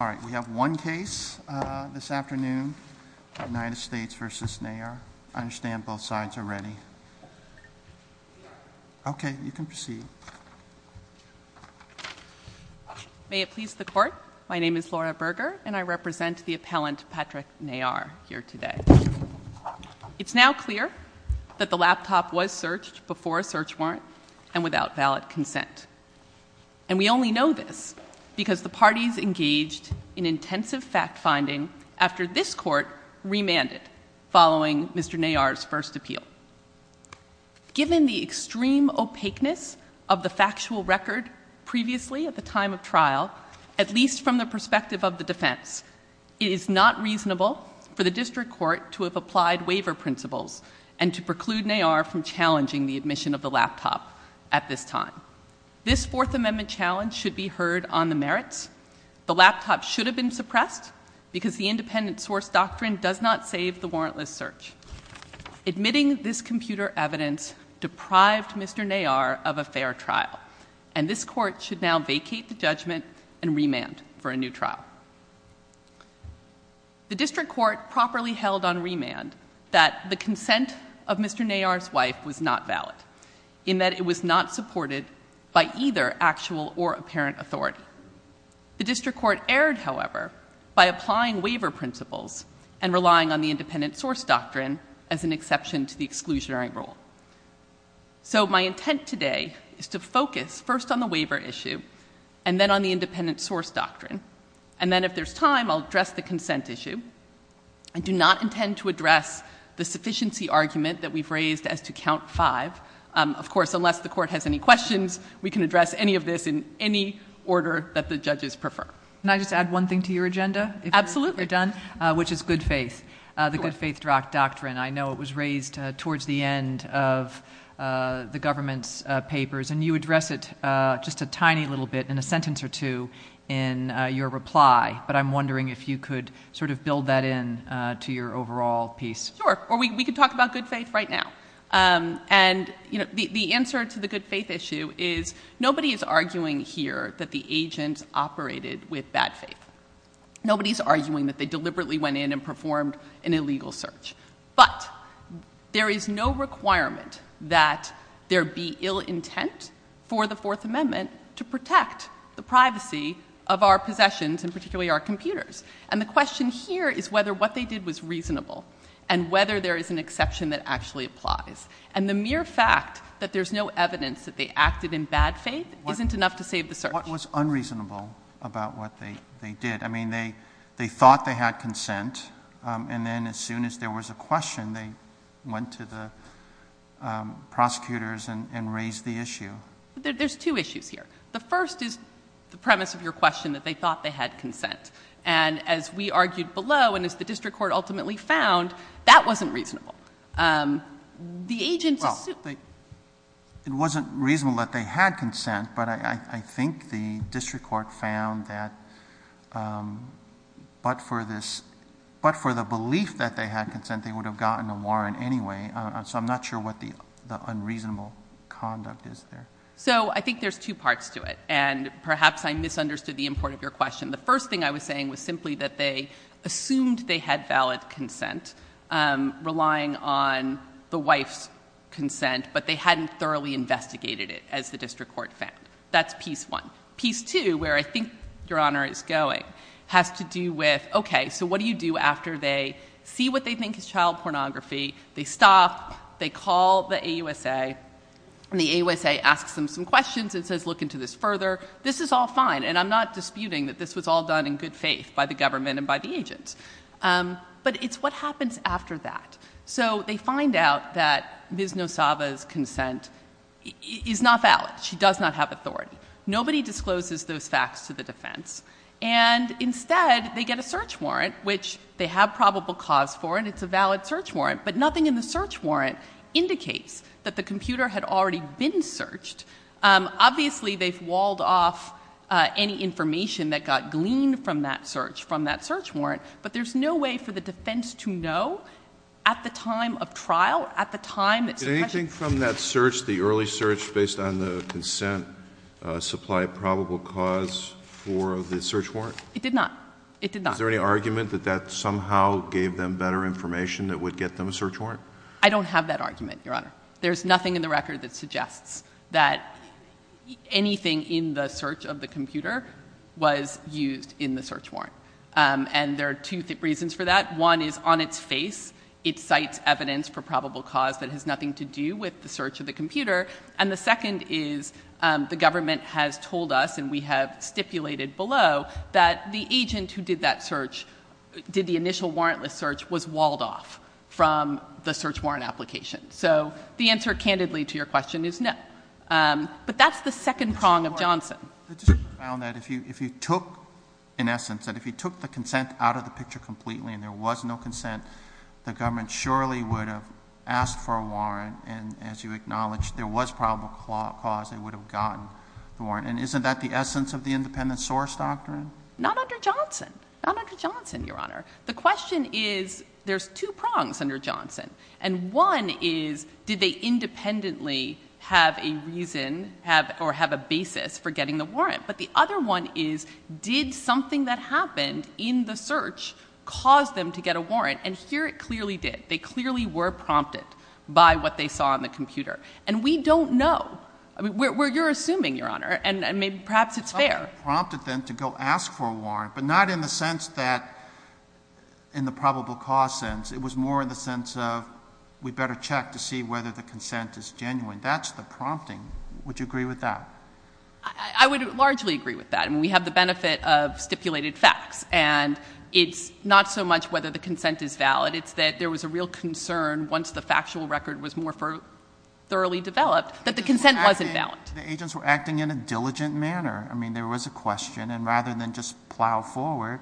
All right, we have one case this afternoon, United States v. Nair. I understand both sides are ready. Okay, you can proceed. May it please the court, my name is Laura Berger and I represent the appellant Patrick Nair here today. It's now clear that the laptop was searched before a search warrant and without valid consent and we only know this because the parties engaged in intensive fact-finding after this court remanded following Mr. Nair's first appeal. Given the extreme opaqueness of the factual record previously at the time of trial, at least from the perspective of the defense, it is not reasonable for the district court to have applied waiver principles and to preclude Nair from challenging the admission of the laptop at this time. This fourth amendment challenge should be heard on the merits. The laptop should have been suppressed because the independent source doctrine does not save the warrantless search. Admitting this computer evidence deprived Mr. Nair of a fair trial and this court should now vacate the judgment and remand for a new trial. The district court properly held on remand that the consent of Mr. Nair's wife was not supported by either actual or apparent authority. The district court erred, however, by applying waiver principles and relying on the independent source doctrine as an exception to the exclusionary rule. So my intent today is to focus first on the waiver issue and then on the independent source doctrine and then if there's time I'll address the consent issue. I do not intend to address the sufficiency argument that we've raised as to count five, of course, unless the court has any questions we can address any of this in any order that the judges prefer. Can I just add one thing to your agenda? Absolutely. Which is good faith, the good faith doctrine. I know it was raised towards the end of the government's papers and you address it just a tiny little bit in a sentence or two in your reply but I'm wondering if you could sort of build that in to your overall piece. Sure or we could talk about good faith right now and you know the answer to the good faith issue is nobody is arguing here that the agents operated with bad faith. Nobody's arguing that they deliberately went in and performed an illegal search but there is no requirement that there be ill intent for the fourth amendment to protect the privacy of our possessions and particularly our computers and the question here is whether what they did was reasonable and whether there is an exception that actually applies and the mere fact that there's no evidence that they acted in bad faith isn't enough to save the search. What was unreasonable about what they did? I mean they thought they had consent and then as soon as there was a question they went to the prosecutors and raised the issue. There's two issues here. The first is the premise of your question that they thought they had consent and as we argued below and as the district court ultimately found that wasn't reasonable. The agents assumed. It wasn't reasonable that they had consent but I think the district court found that but for this but for the belief that they had consent they would have gotten a warrant anyway so I'm not sure what the unreasonable conduct is there. So I think there's two parts to it and perhaps I misunderstood the import of your question. The first thing I was saying was simply that they assumed they had valid consent relying on the wife's consent but they hadn't thoroughly investigated it as the district court found. That's piece one. Piece two where I think your honor is going has to do with okay so what do you after they see what they think is child pornography, they stop, they call the AUSA and the AUSA asks them some questions and says look into this further. This is all fine and I'm not disputing that this was all done in good faith by the government and by the agents but it's what happens after that. So they find out that Ms. Nosaba's consent is not valid. She does not have authority. Nobody discloses those facts to the defense and instead they get a search warrant which they have probable cause for and it's a valid search warrant but nothing in the search warrant indicates that the computer had already been searched. Obviously they've walled off any information that got gleaned from that search from that search warrant but there's no way for the defense to know at the time of trial at the time. Did anything from that search the early search based on the consent supply a probable cause for the search warrant? It did not. It did not. Is there any argument that that somehow gave them better information that would get them a search warrant? I don't have that argument, Your Honor. There's nothing in the record that suggests that anything in the search of the computer was used in the search warrant. And there are two reasons for that. One is on its face it cites evidence for probable cause that has nothing to do with the search of the computer and the second is the government has told us and we have stipulated below that the agent who did that search did the initial warrantless search was walled off from the search warrant application. So the answer candidly to your question is no. But that's the second prong of Johnson. The district found that if you took in essence that if you took the consent out of the picture completely and there was no consent the government surely would have asked for a warrant and as you have gotten the warrant. And isn't that the essence of the independent source doctrine? Not under Johnson. Not under Johnson, Your Honor. The question is there's two prongs under Johnson and one is did they independently have a reason have or have a basis for getting the warrant. But the other one is did something that happened in the search cause them to get a warrant and here it clearly did. They clearly were prompted by what they saw on the computer. And we don't know. Where you're assuming, Your Honor, and maybe perhaps it's fair. Prompted them to go ask for a warrant but not in the sense that in the probable cause sense. It was more in the sense of we better check to see whether the consent is genuine. That's the prompting. Would you agree with that? I would largely agree with that. We have the benefit of stipulated facts and it's not so much whether the consent is valid. It's that there was a real concern once the factual record was more thoroughly developed that the consent wasn't valid. The agents were acting in a diligent manner. I mean there was a question and rather than just plow forward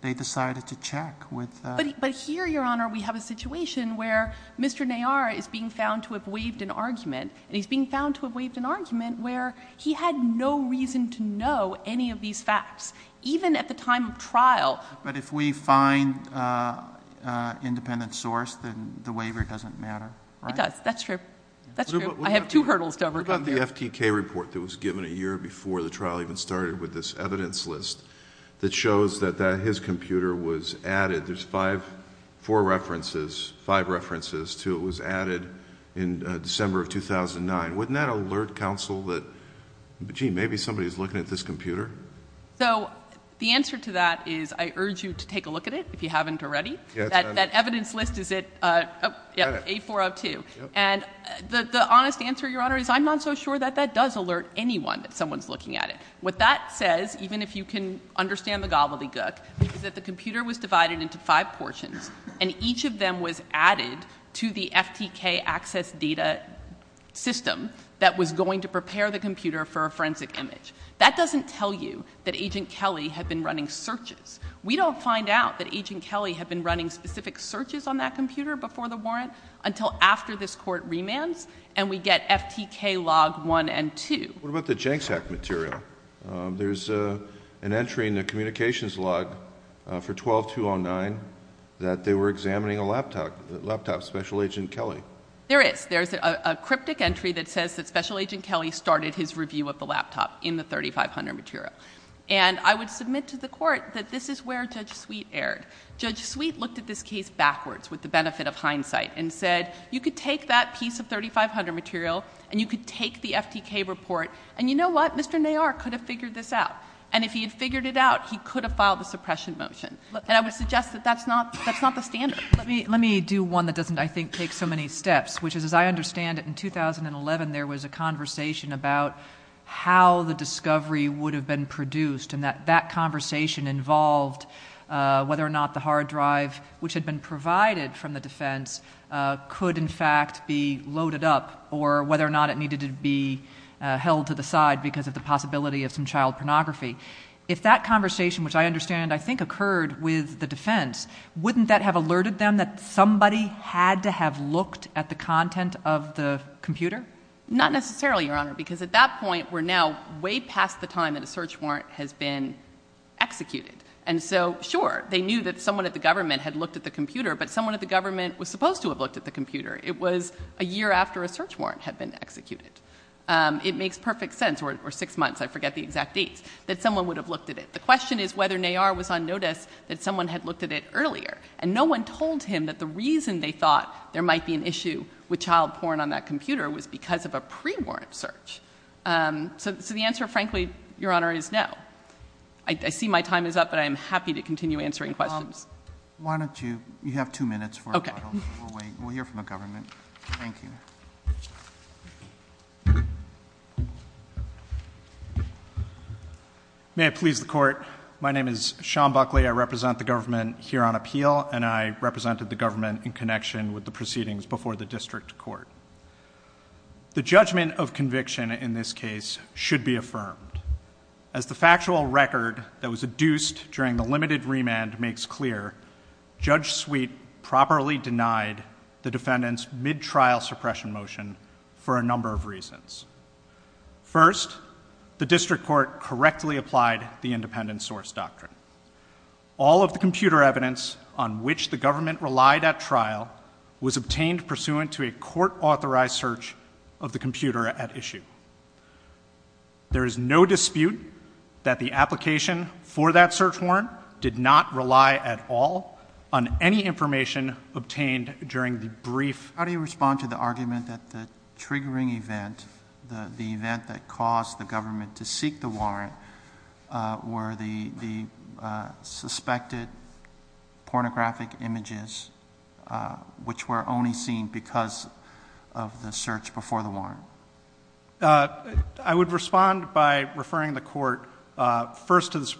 they decided to check. But here, Your Honor, we have a situation where Mr. Nayar is being found to have waived an argument and he's being found to have waived an argument where he had no reason to know any of these facts. Even at the time of trial. But if we find an independent source then the waiver doesn't matter, right? It does. That's true. That's true. I have two hurdles to overcome. What about the FTK report that was given a year before the trial even started with this evidence list that shows that his computer was added. There's five, four references, five references to it was added in December of 2009. Wouldn't that alert counsel that gee, maybe somebody's looking at this computer? So the answer to that is I urge you to take a look at it if you haven't already. That evidence list is at 8402. And the honest answer, Your Honor, is I'm not so sure that that does alert anyone that someone's looking at it. What that says, even if you can understand the gobbledygook, is that the computer was divided into five portions and each of them was added to the FTK access data system that was going to prepare the computer for a forensic image. That doesn't tell you that Agent Kelly had been running searches. We don't find out that Agent Kelly had been running specific searches on that computer before the warrant until after this court remands and we get FTK log one and two. What about the JANXAC material? There's an entry in the communications log for 12-209 that they were examining a laptop, a laptop of Special Agent Kelly. There is. There's a cryptic entry that says that Special Agent Kelly started his review of the laptop in the 3500 material. And I would submit to the court that this is where Judge Sweet erred. Judge Sweet looked at this case backwards with the benefit of hindsight and said you could take that piece of 3500 material and you could take the FTK report and you know what, Mr. Nayar could have figured this out. And if he had figured it out, he could have filed a suppression motion. And I would suggest that that's not the standard. Let me do one that doesn't, I think, take so many steps, which is as I understand it, in 2011 there was a conversation about how the discovery would have been produced and that conversation involved whether or not the hard drive which had been provided from the defense could in fact be loaded up or whether or not it needed to be held to the side because of the possibility of some child pornography. If that conversation, which I understand I think occurred with the defense, wouldn't that have alerted them that somebody had to have looked at the content of the computer? Not necessarily, Your Honor, because at that point we're now way past the time that a search warrant has been executed. And so, sure, they knew that someone at the government had looked at the computer, but someone at the government was supposed to have looked at the computer. It was a year after a search warrant had been executed. It makes perfect sense, or six months, I forget the exact dates, that someone would have looked at it. The question is whether Neyar was on notice that someone had looked at it earlier. And no one told him that the reason they thought there might be an issue with child porn on that computer was because of a pre-warrant search. So the answer, frankly, Your Honor, is no. I see my time is up, but I am happy to continue answering questions. Why don't you, you have two minutes for a bottle. We'll hear from the government. Thank you. May it please the Court, my name is Sean Buckley. I represent the government here on appeal, and I represented the government in connection with the proceedings before the district court. The judgment of conviction in this case should be affirmed. As the factual record that was adduced during the limited remand makes clear, Judge Sweet properly denied the defendant's trial suppression motion for a number of reasons. First, the district court correctly applied the independent source doctrine. All of the computer evidence on which the government relied at trial was obtained pursuant to a court authorized search of the computer at issue. There is no dispute that the application for that search warrant did not rely at all on any information obtained during the brief. How do you respond to the argument that the triggering event, the event that caused the government to seek the warrant, were the suspected pornographic images which were only seen because of the search before the warrant? I would respond by referring the Court first to the The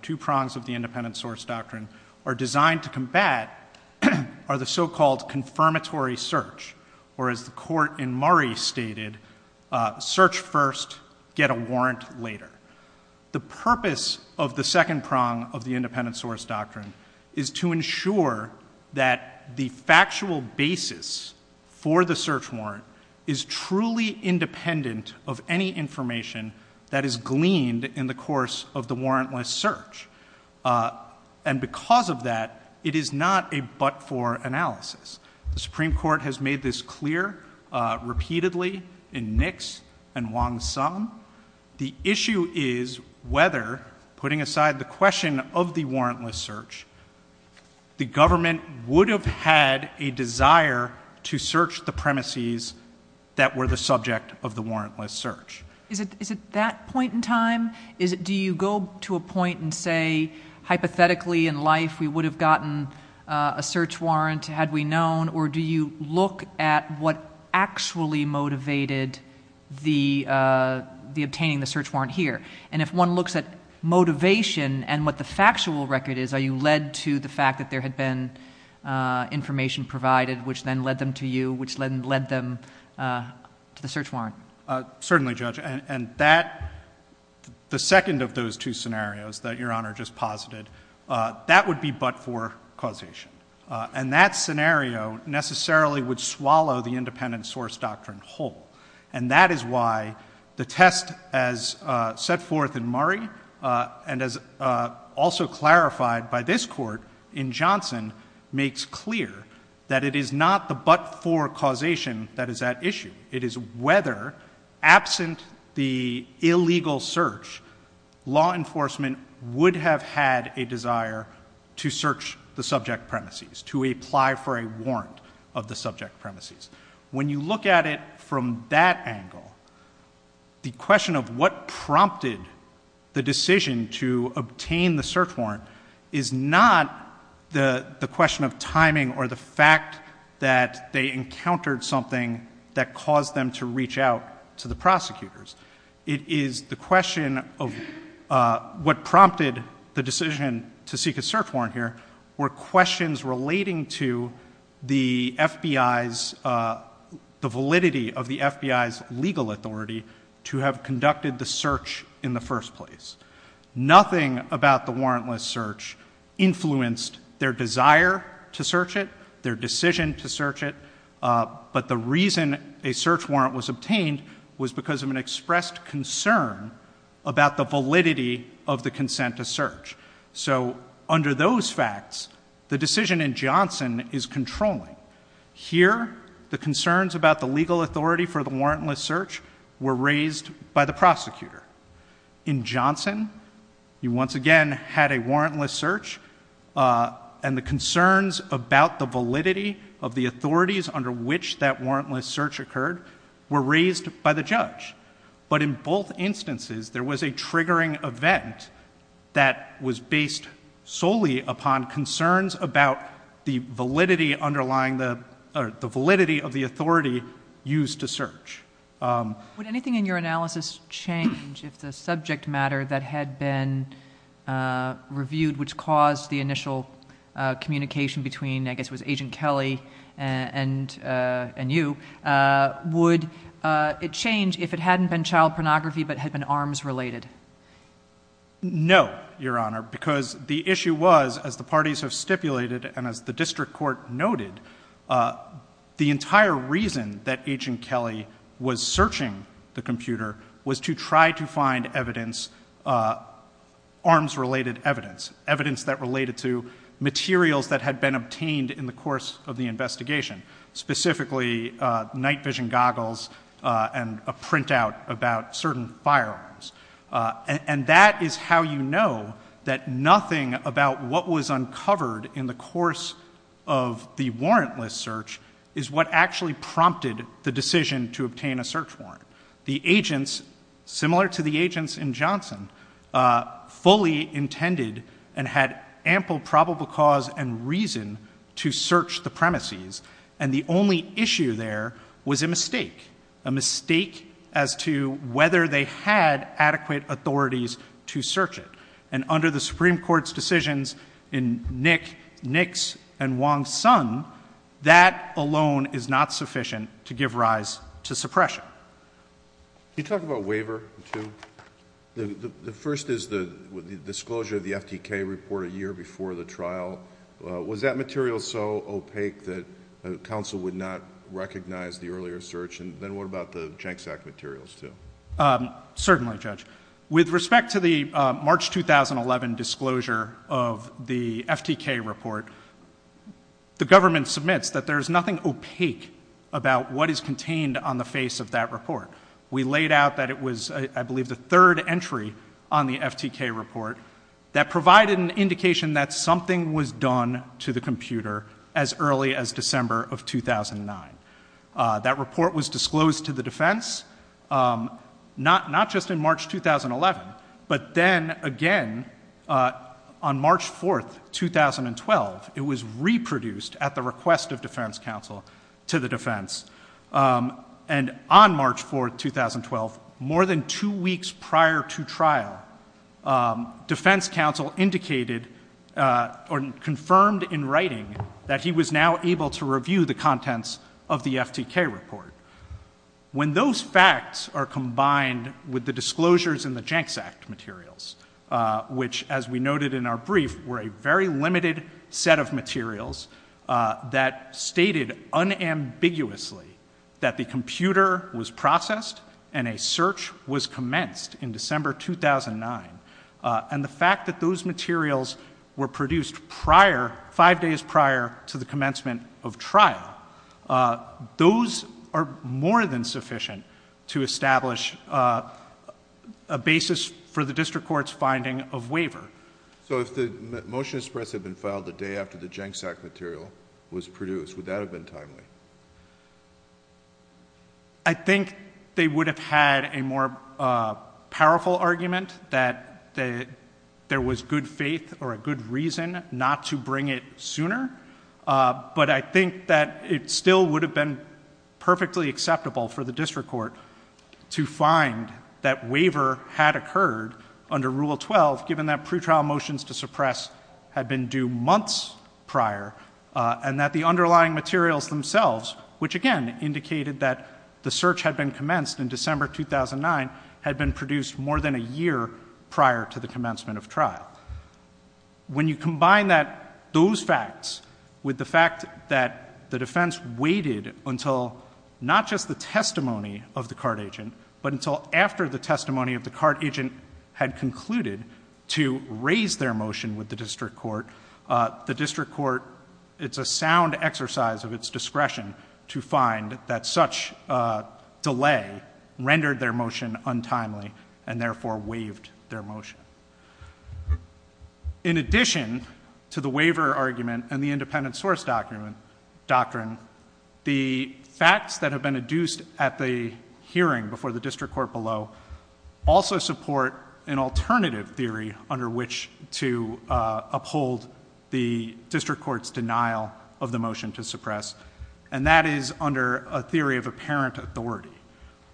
two prongs of the independent source doctrine are designed to combat are the so-called confirmatory search, or as the Court in Murray stated, search first, get a warrant later. The purpose of the second prong of the independent source doctrine is to ensure that the factual basis for the search warrant is truly independent of any information that is gleaned in the course of the warrantless search. And because of that, it is not a but-for analysis. The Supreme Court has made this clear repeatedly in Nix and Wong-Sum. The issue is whether, putting aside the question of the warrantless search, the government would have had a desire to search the premises that were the subject of the warrantless search. Is it that point in time? Do you go to a point and say hypothetically in life we would have gotten a search warrant had we known, or do you look at what actually motivated the obtaining the search warrant here? And if one looks at motivation and what the factual record is, are you led to the fact that there had been information provided which then led them to you, which then led them to the search warrant? Certainly, Judge. And that, the second of those two scenarios that Your Honor just posited, that would be but-for causation. And that scenario necessarily would swallow the independent source doctrine whole. And that is why the test as set forth in Murray and as also clarified by this Court in Nix is clear, that it is not the but-for causation that is at issue. It is whether, absent the illegal search, law enforcement would have had a desire to search the subject premises, to apply for a warrant of the subject premises. When you look at it from that angle, the question of what or the fact that they encountered something that caused them to reach out to the prosecutors. It is the question of what prompted the decision to seek a search warrant here were questions relating to the FBI's, the validity of the FBI's legal authority to have conducted the search in the first place. Nothing about the warrantless search influenced their desire to search it, their decision to search it. But the reason a search warrant was obtained was because of an expressed concern about the validity of the consent to search. So, under those facts, the decision in Johnson is controlling. Here, the concerns about the legal authority for the warrantless search were raised by the prosecutor. In Johnson, you once again had a warrantless search and the concerns about the validity of the authorities under which that warrantless search occurred were raised by the judge. But in both instances, there was a triggering event that was based solely upon concerns about the validity underlying the, or the validity of the authority used to search. Would anything in your analysis change if the subject matter that had been reviewed which caused the initial communication between, I guess it was Agent Kelly and you, would it change if it hadn't been child pornography but had been arms related? No, Your Honor, because the issue was, as the parties have stipulated and as the District Court noted, the entire reason that Agent Kelly was searching the computer was to try to find evidence, arms related evidence, evidence that related to materials that had been obtained in the course of the investigation, specifically night vision goggles and a printout about certain firearms. And that is how you know that nothing about what was uncovered in the course of the warrantless search is what actually prompted the decision to obtain a search warrant. The agents, similar to the agents in Johnson, fully intended and had ample probable cause and they had adequate authorities to search it. And under the Supreme Court's decisions in Nick, Nix, and Wong's son, that alone is not sufficient to give rise to suppression. Can you talk about waiver too? The first is the disclosure of the FTK report a year before the trial. Was that material so opaque that counsel would not recognize the earlier search? And then what about the Genksak materials too? Certainly, Judge. With respect to the March 2011 disclosure of the FTK report, the government submits that there is nothing opaque about what is contained on the face of that report. We laid out that it was, I believe, the third entry on the FTK report that provided an indication that something was done to the computer as early as December of 2009. That report was disclosed to the defense, not just in March 2011, but then again on March 4th, 2012, it was reproduced at the request of defense counsel to the defense. And on March 4th, 2012, more than two weeks prior to trial, defense counsel indicated or confirmed in writing that he was now able to review the contents of the FTK report. When those facts are combined with the disclosures in the Genksak materials, which, as we noted in our brief, were a very limited set of materials that stated unambiguously that the computer was processed and a search was of trial, those are more than sufficient to establish a basis for the district court's finding of waiver. So if the motion to suppress had been filed the day after the Genksak material was produced, would that have been timely? I think they would have had a more powerful argument that there was good faith or a good reason not to bring it sooner, but I think that it still would have been perfectly acceptable for the district court to find that waiver had occurred under Rule 12, given that pretrial motions to suppress had been due months prior, and that the underlying materials themselves, which again indicated that the search had been commenced in prior to the commencement of trial. When you combine those facts with the fact that the defense waited until not just the testimony of the cart agent, but until after the testimony of the cart agent had concluded to raise their motion with the district court, the district court, it's a sound exercise of its discretion to find that such delay rendered their motion untimely and therefore waived their motion. In addition to the waiver argument and the independent source doctrine, the facts that have been adduced at the hearing before the district court below also support an alternative theory under which to uphold the district court's denial of the motion to suppress, and that is under a theory of apparent authority.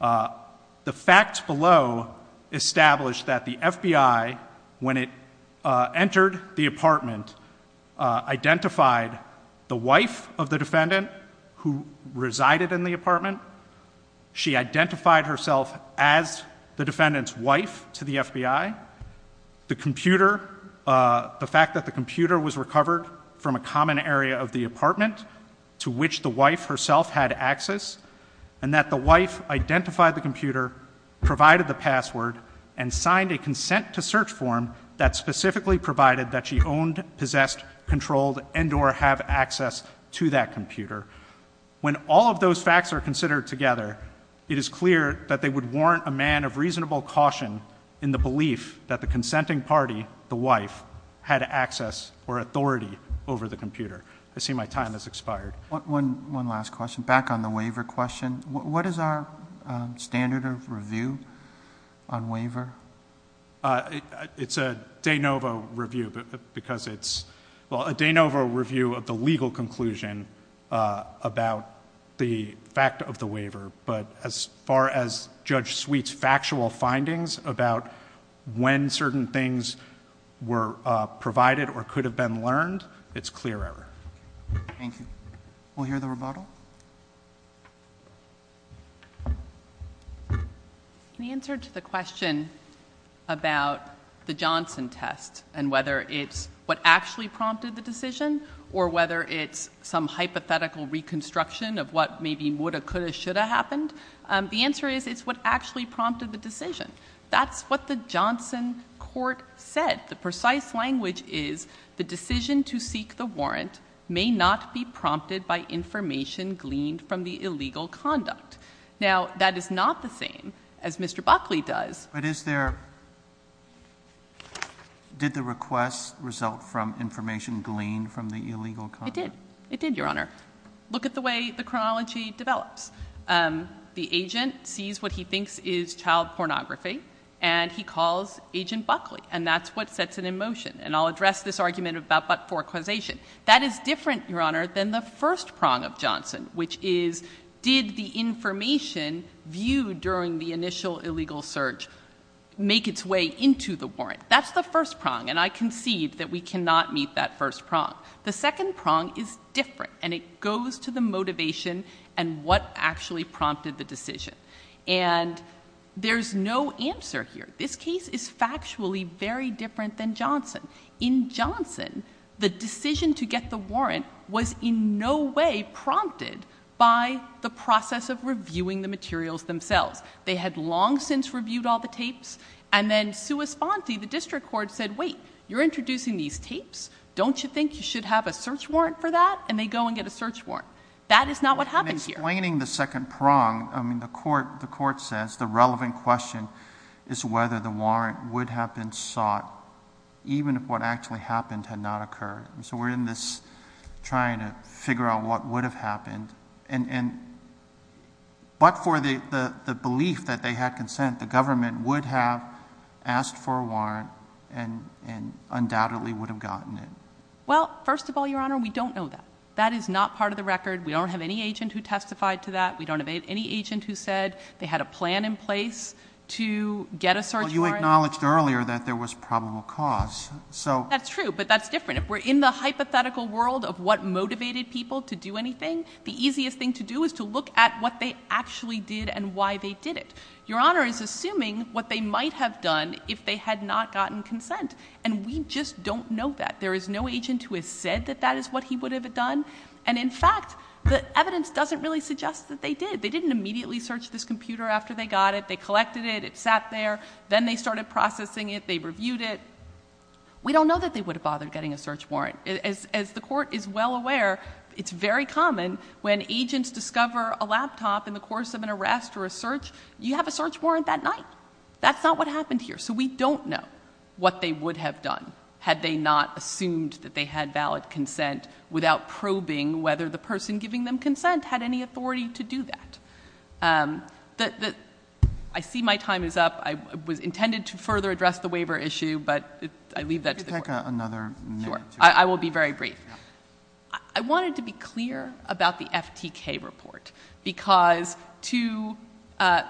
The facts below establish that the FBI, when it entered the apartment, identified the wife of the defendant who resided in the apartment. She identified herself as the defendant's wife to the FBI. The fact that the computer was recovered from a common area of the apartment to which the wife herself had access, and that the wife identified the computer, provided the password, and signed a consent-to-search form that specifically provided that she owned, possessed, controlled, and or have access to that computer. When all of those facts are considered together, it is clear that they would warrant a man of reasonable caution in the belief that the consenting party, the wife, had access or authority over the computer. I see my time has expired. One last question. Back on the waiver question, what is our standard of review on waiver? It's a de novo review because it's... well, a de novo review of the legal conclusion about the fact of the waiver, but as far as Judge Sweet's factual findings about when certain things were provided or could have been learned, it's clear error. Thank you. We'll hear the rebuttal. The answer to the question about the Johnson test and whether it's what actually prompted the decision or whether it's some hypothetical reconstruction of what maybe would have, could have, should have happened, the answer is it's what actually prompted the decision. That's what the Johnson court said. The precise language is the decision to seek the warrant may not be prompted by information gleaned from the illegal conduct. Now, that is not the same as Mr. Buckley does. But is there... did the request result from information gleaned from the illegal conduct? It did. It did, Your Honor. Look at the way the chronology develops. The agent sees what he thinks is child pornography, and he calls Agent Buckley, and that's what sets it in motion. And I'll address this argument about but-for causation. That is different, Your Honor, than the first prong of Johnson, which is did the information viewed during the initial illegal surge make its way into the warrant? That's the first prong, and I concede that we cannot meet that first prong. The second prong is different, and it goes to the motivation and what actually prompted the decision. And there's no answer here. This case is factually very different than Johnson. In Johnson, the decision to get the warrant was in no way prompted by the process of reviewing the materials themselves. They had long since reviewed all the tapes, and then Sua Sponti, the district court, said, wait, you're introducing these tapes. Don't you think you should have a search warrant for that? And they go and get a search warrant. That is not what happens here. In explaining the second prong, I mean, the court says the relevant question is whether the warrant would have been sought even if what actually happened had not occurred. So we're in this trying to figure out what would have happened. But for the belief that they had consent, the government would have asked for a warrant and undoubtedly would have gotten it. Well, first of all, Your Honor, we don't know that. That is not part of the record. We don't have any agent who testified to that. We don't have any agent who said they had a plan in place to get a search warrant. Well, you acknowledged earlier that there was probable cause. That's true, but that's different. If we're in the hypothetical world of what motivated people to do anything, the easiest thing to do is to look at what they actually did and why they did it. Your Honor is assuming what they might have done if they had not gotten consent, and we just don't know that. There is no agent who has said that that is what he would have done. And in fact, the evidence doesn't really suggest that they did. They didn't immediately search this computer after they got it. They collected it. It sat there. Then they started processing it. They reviewed it. We don't know that they would have bothered getting a search warrant. As the court is well aware, it's very common when agents discover a laptop in the course of an arrest or a search, you have a search warrant that night. That's not what happened here. We don't know what they would have done had they not assumed that they had valid consent without probing whether the person giving them consent had any authority to do that. I see my time is up. I was intended to further address the waiver issue, but I leave that to the court. Could you take another minute? Sure. I will be very brief. I wanted to be clear about the FTK report because to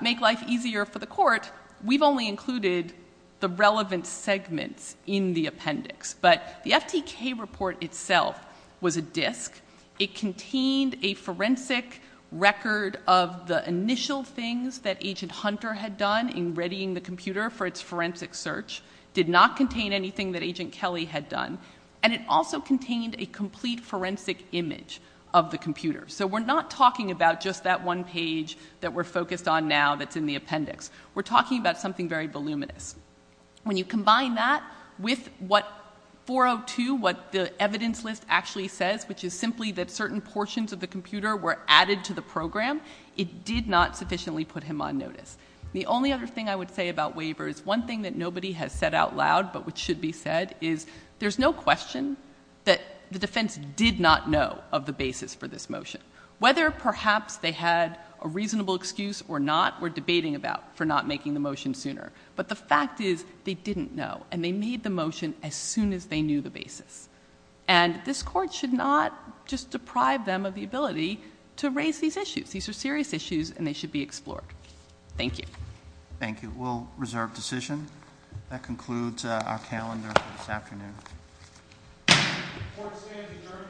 make life easier for the court, we've only included the relevant segments in the appendix. But the FTK report itself was a disk. It contained a forensic record of the initial things that Agent Hunter had done in readying the computer for its forensic search. It did not contain anything that Agent Kelly had done. And it also contained a complete forensic image of the computer. So we're not talking about just that one page that we're focused on now that's in the appendix. We're talking about something very voluminous. When you combine that with what 402, what the evidence list actually says, which is simply that certain portions of the computer were added to the program, it did not sufficiently put him on notice. The only other thing I would say about waiver is one thing that nobody has said out loud, but which should be said, is there's no question that the defense did not know of the basis for this motion. Whether perhaps they had a reasonable excuse or not, we're debating about for not making the motion sooner. But the fact is they didn't know, and they made the motion as soon as they knew the basis. And this Court should not just deprive them of the ability to raise these issues. These are serious issues, and they should be explored. Thank you. Thank you. We'll reserve decision. That concludes our calendar for this afternoon. The Court stands adjourned.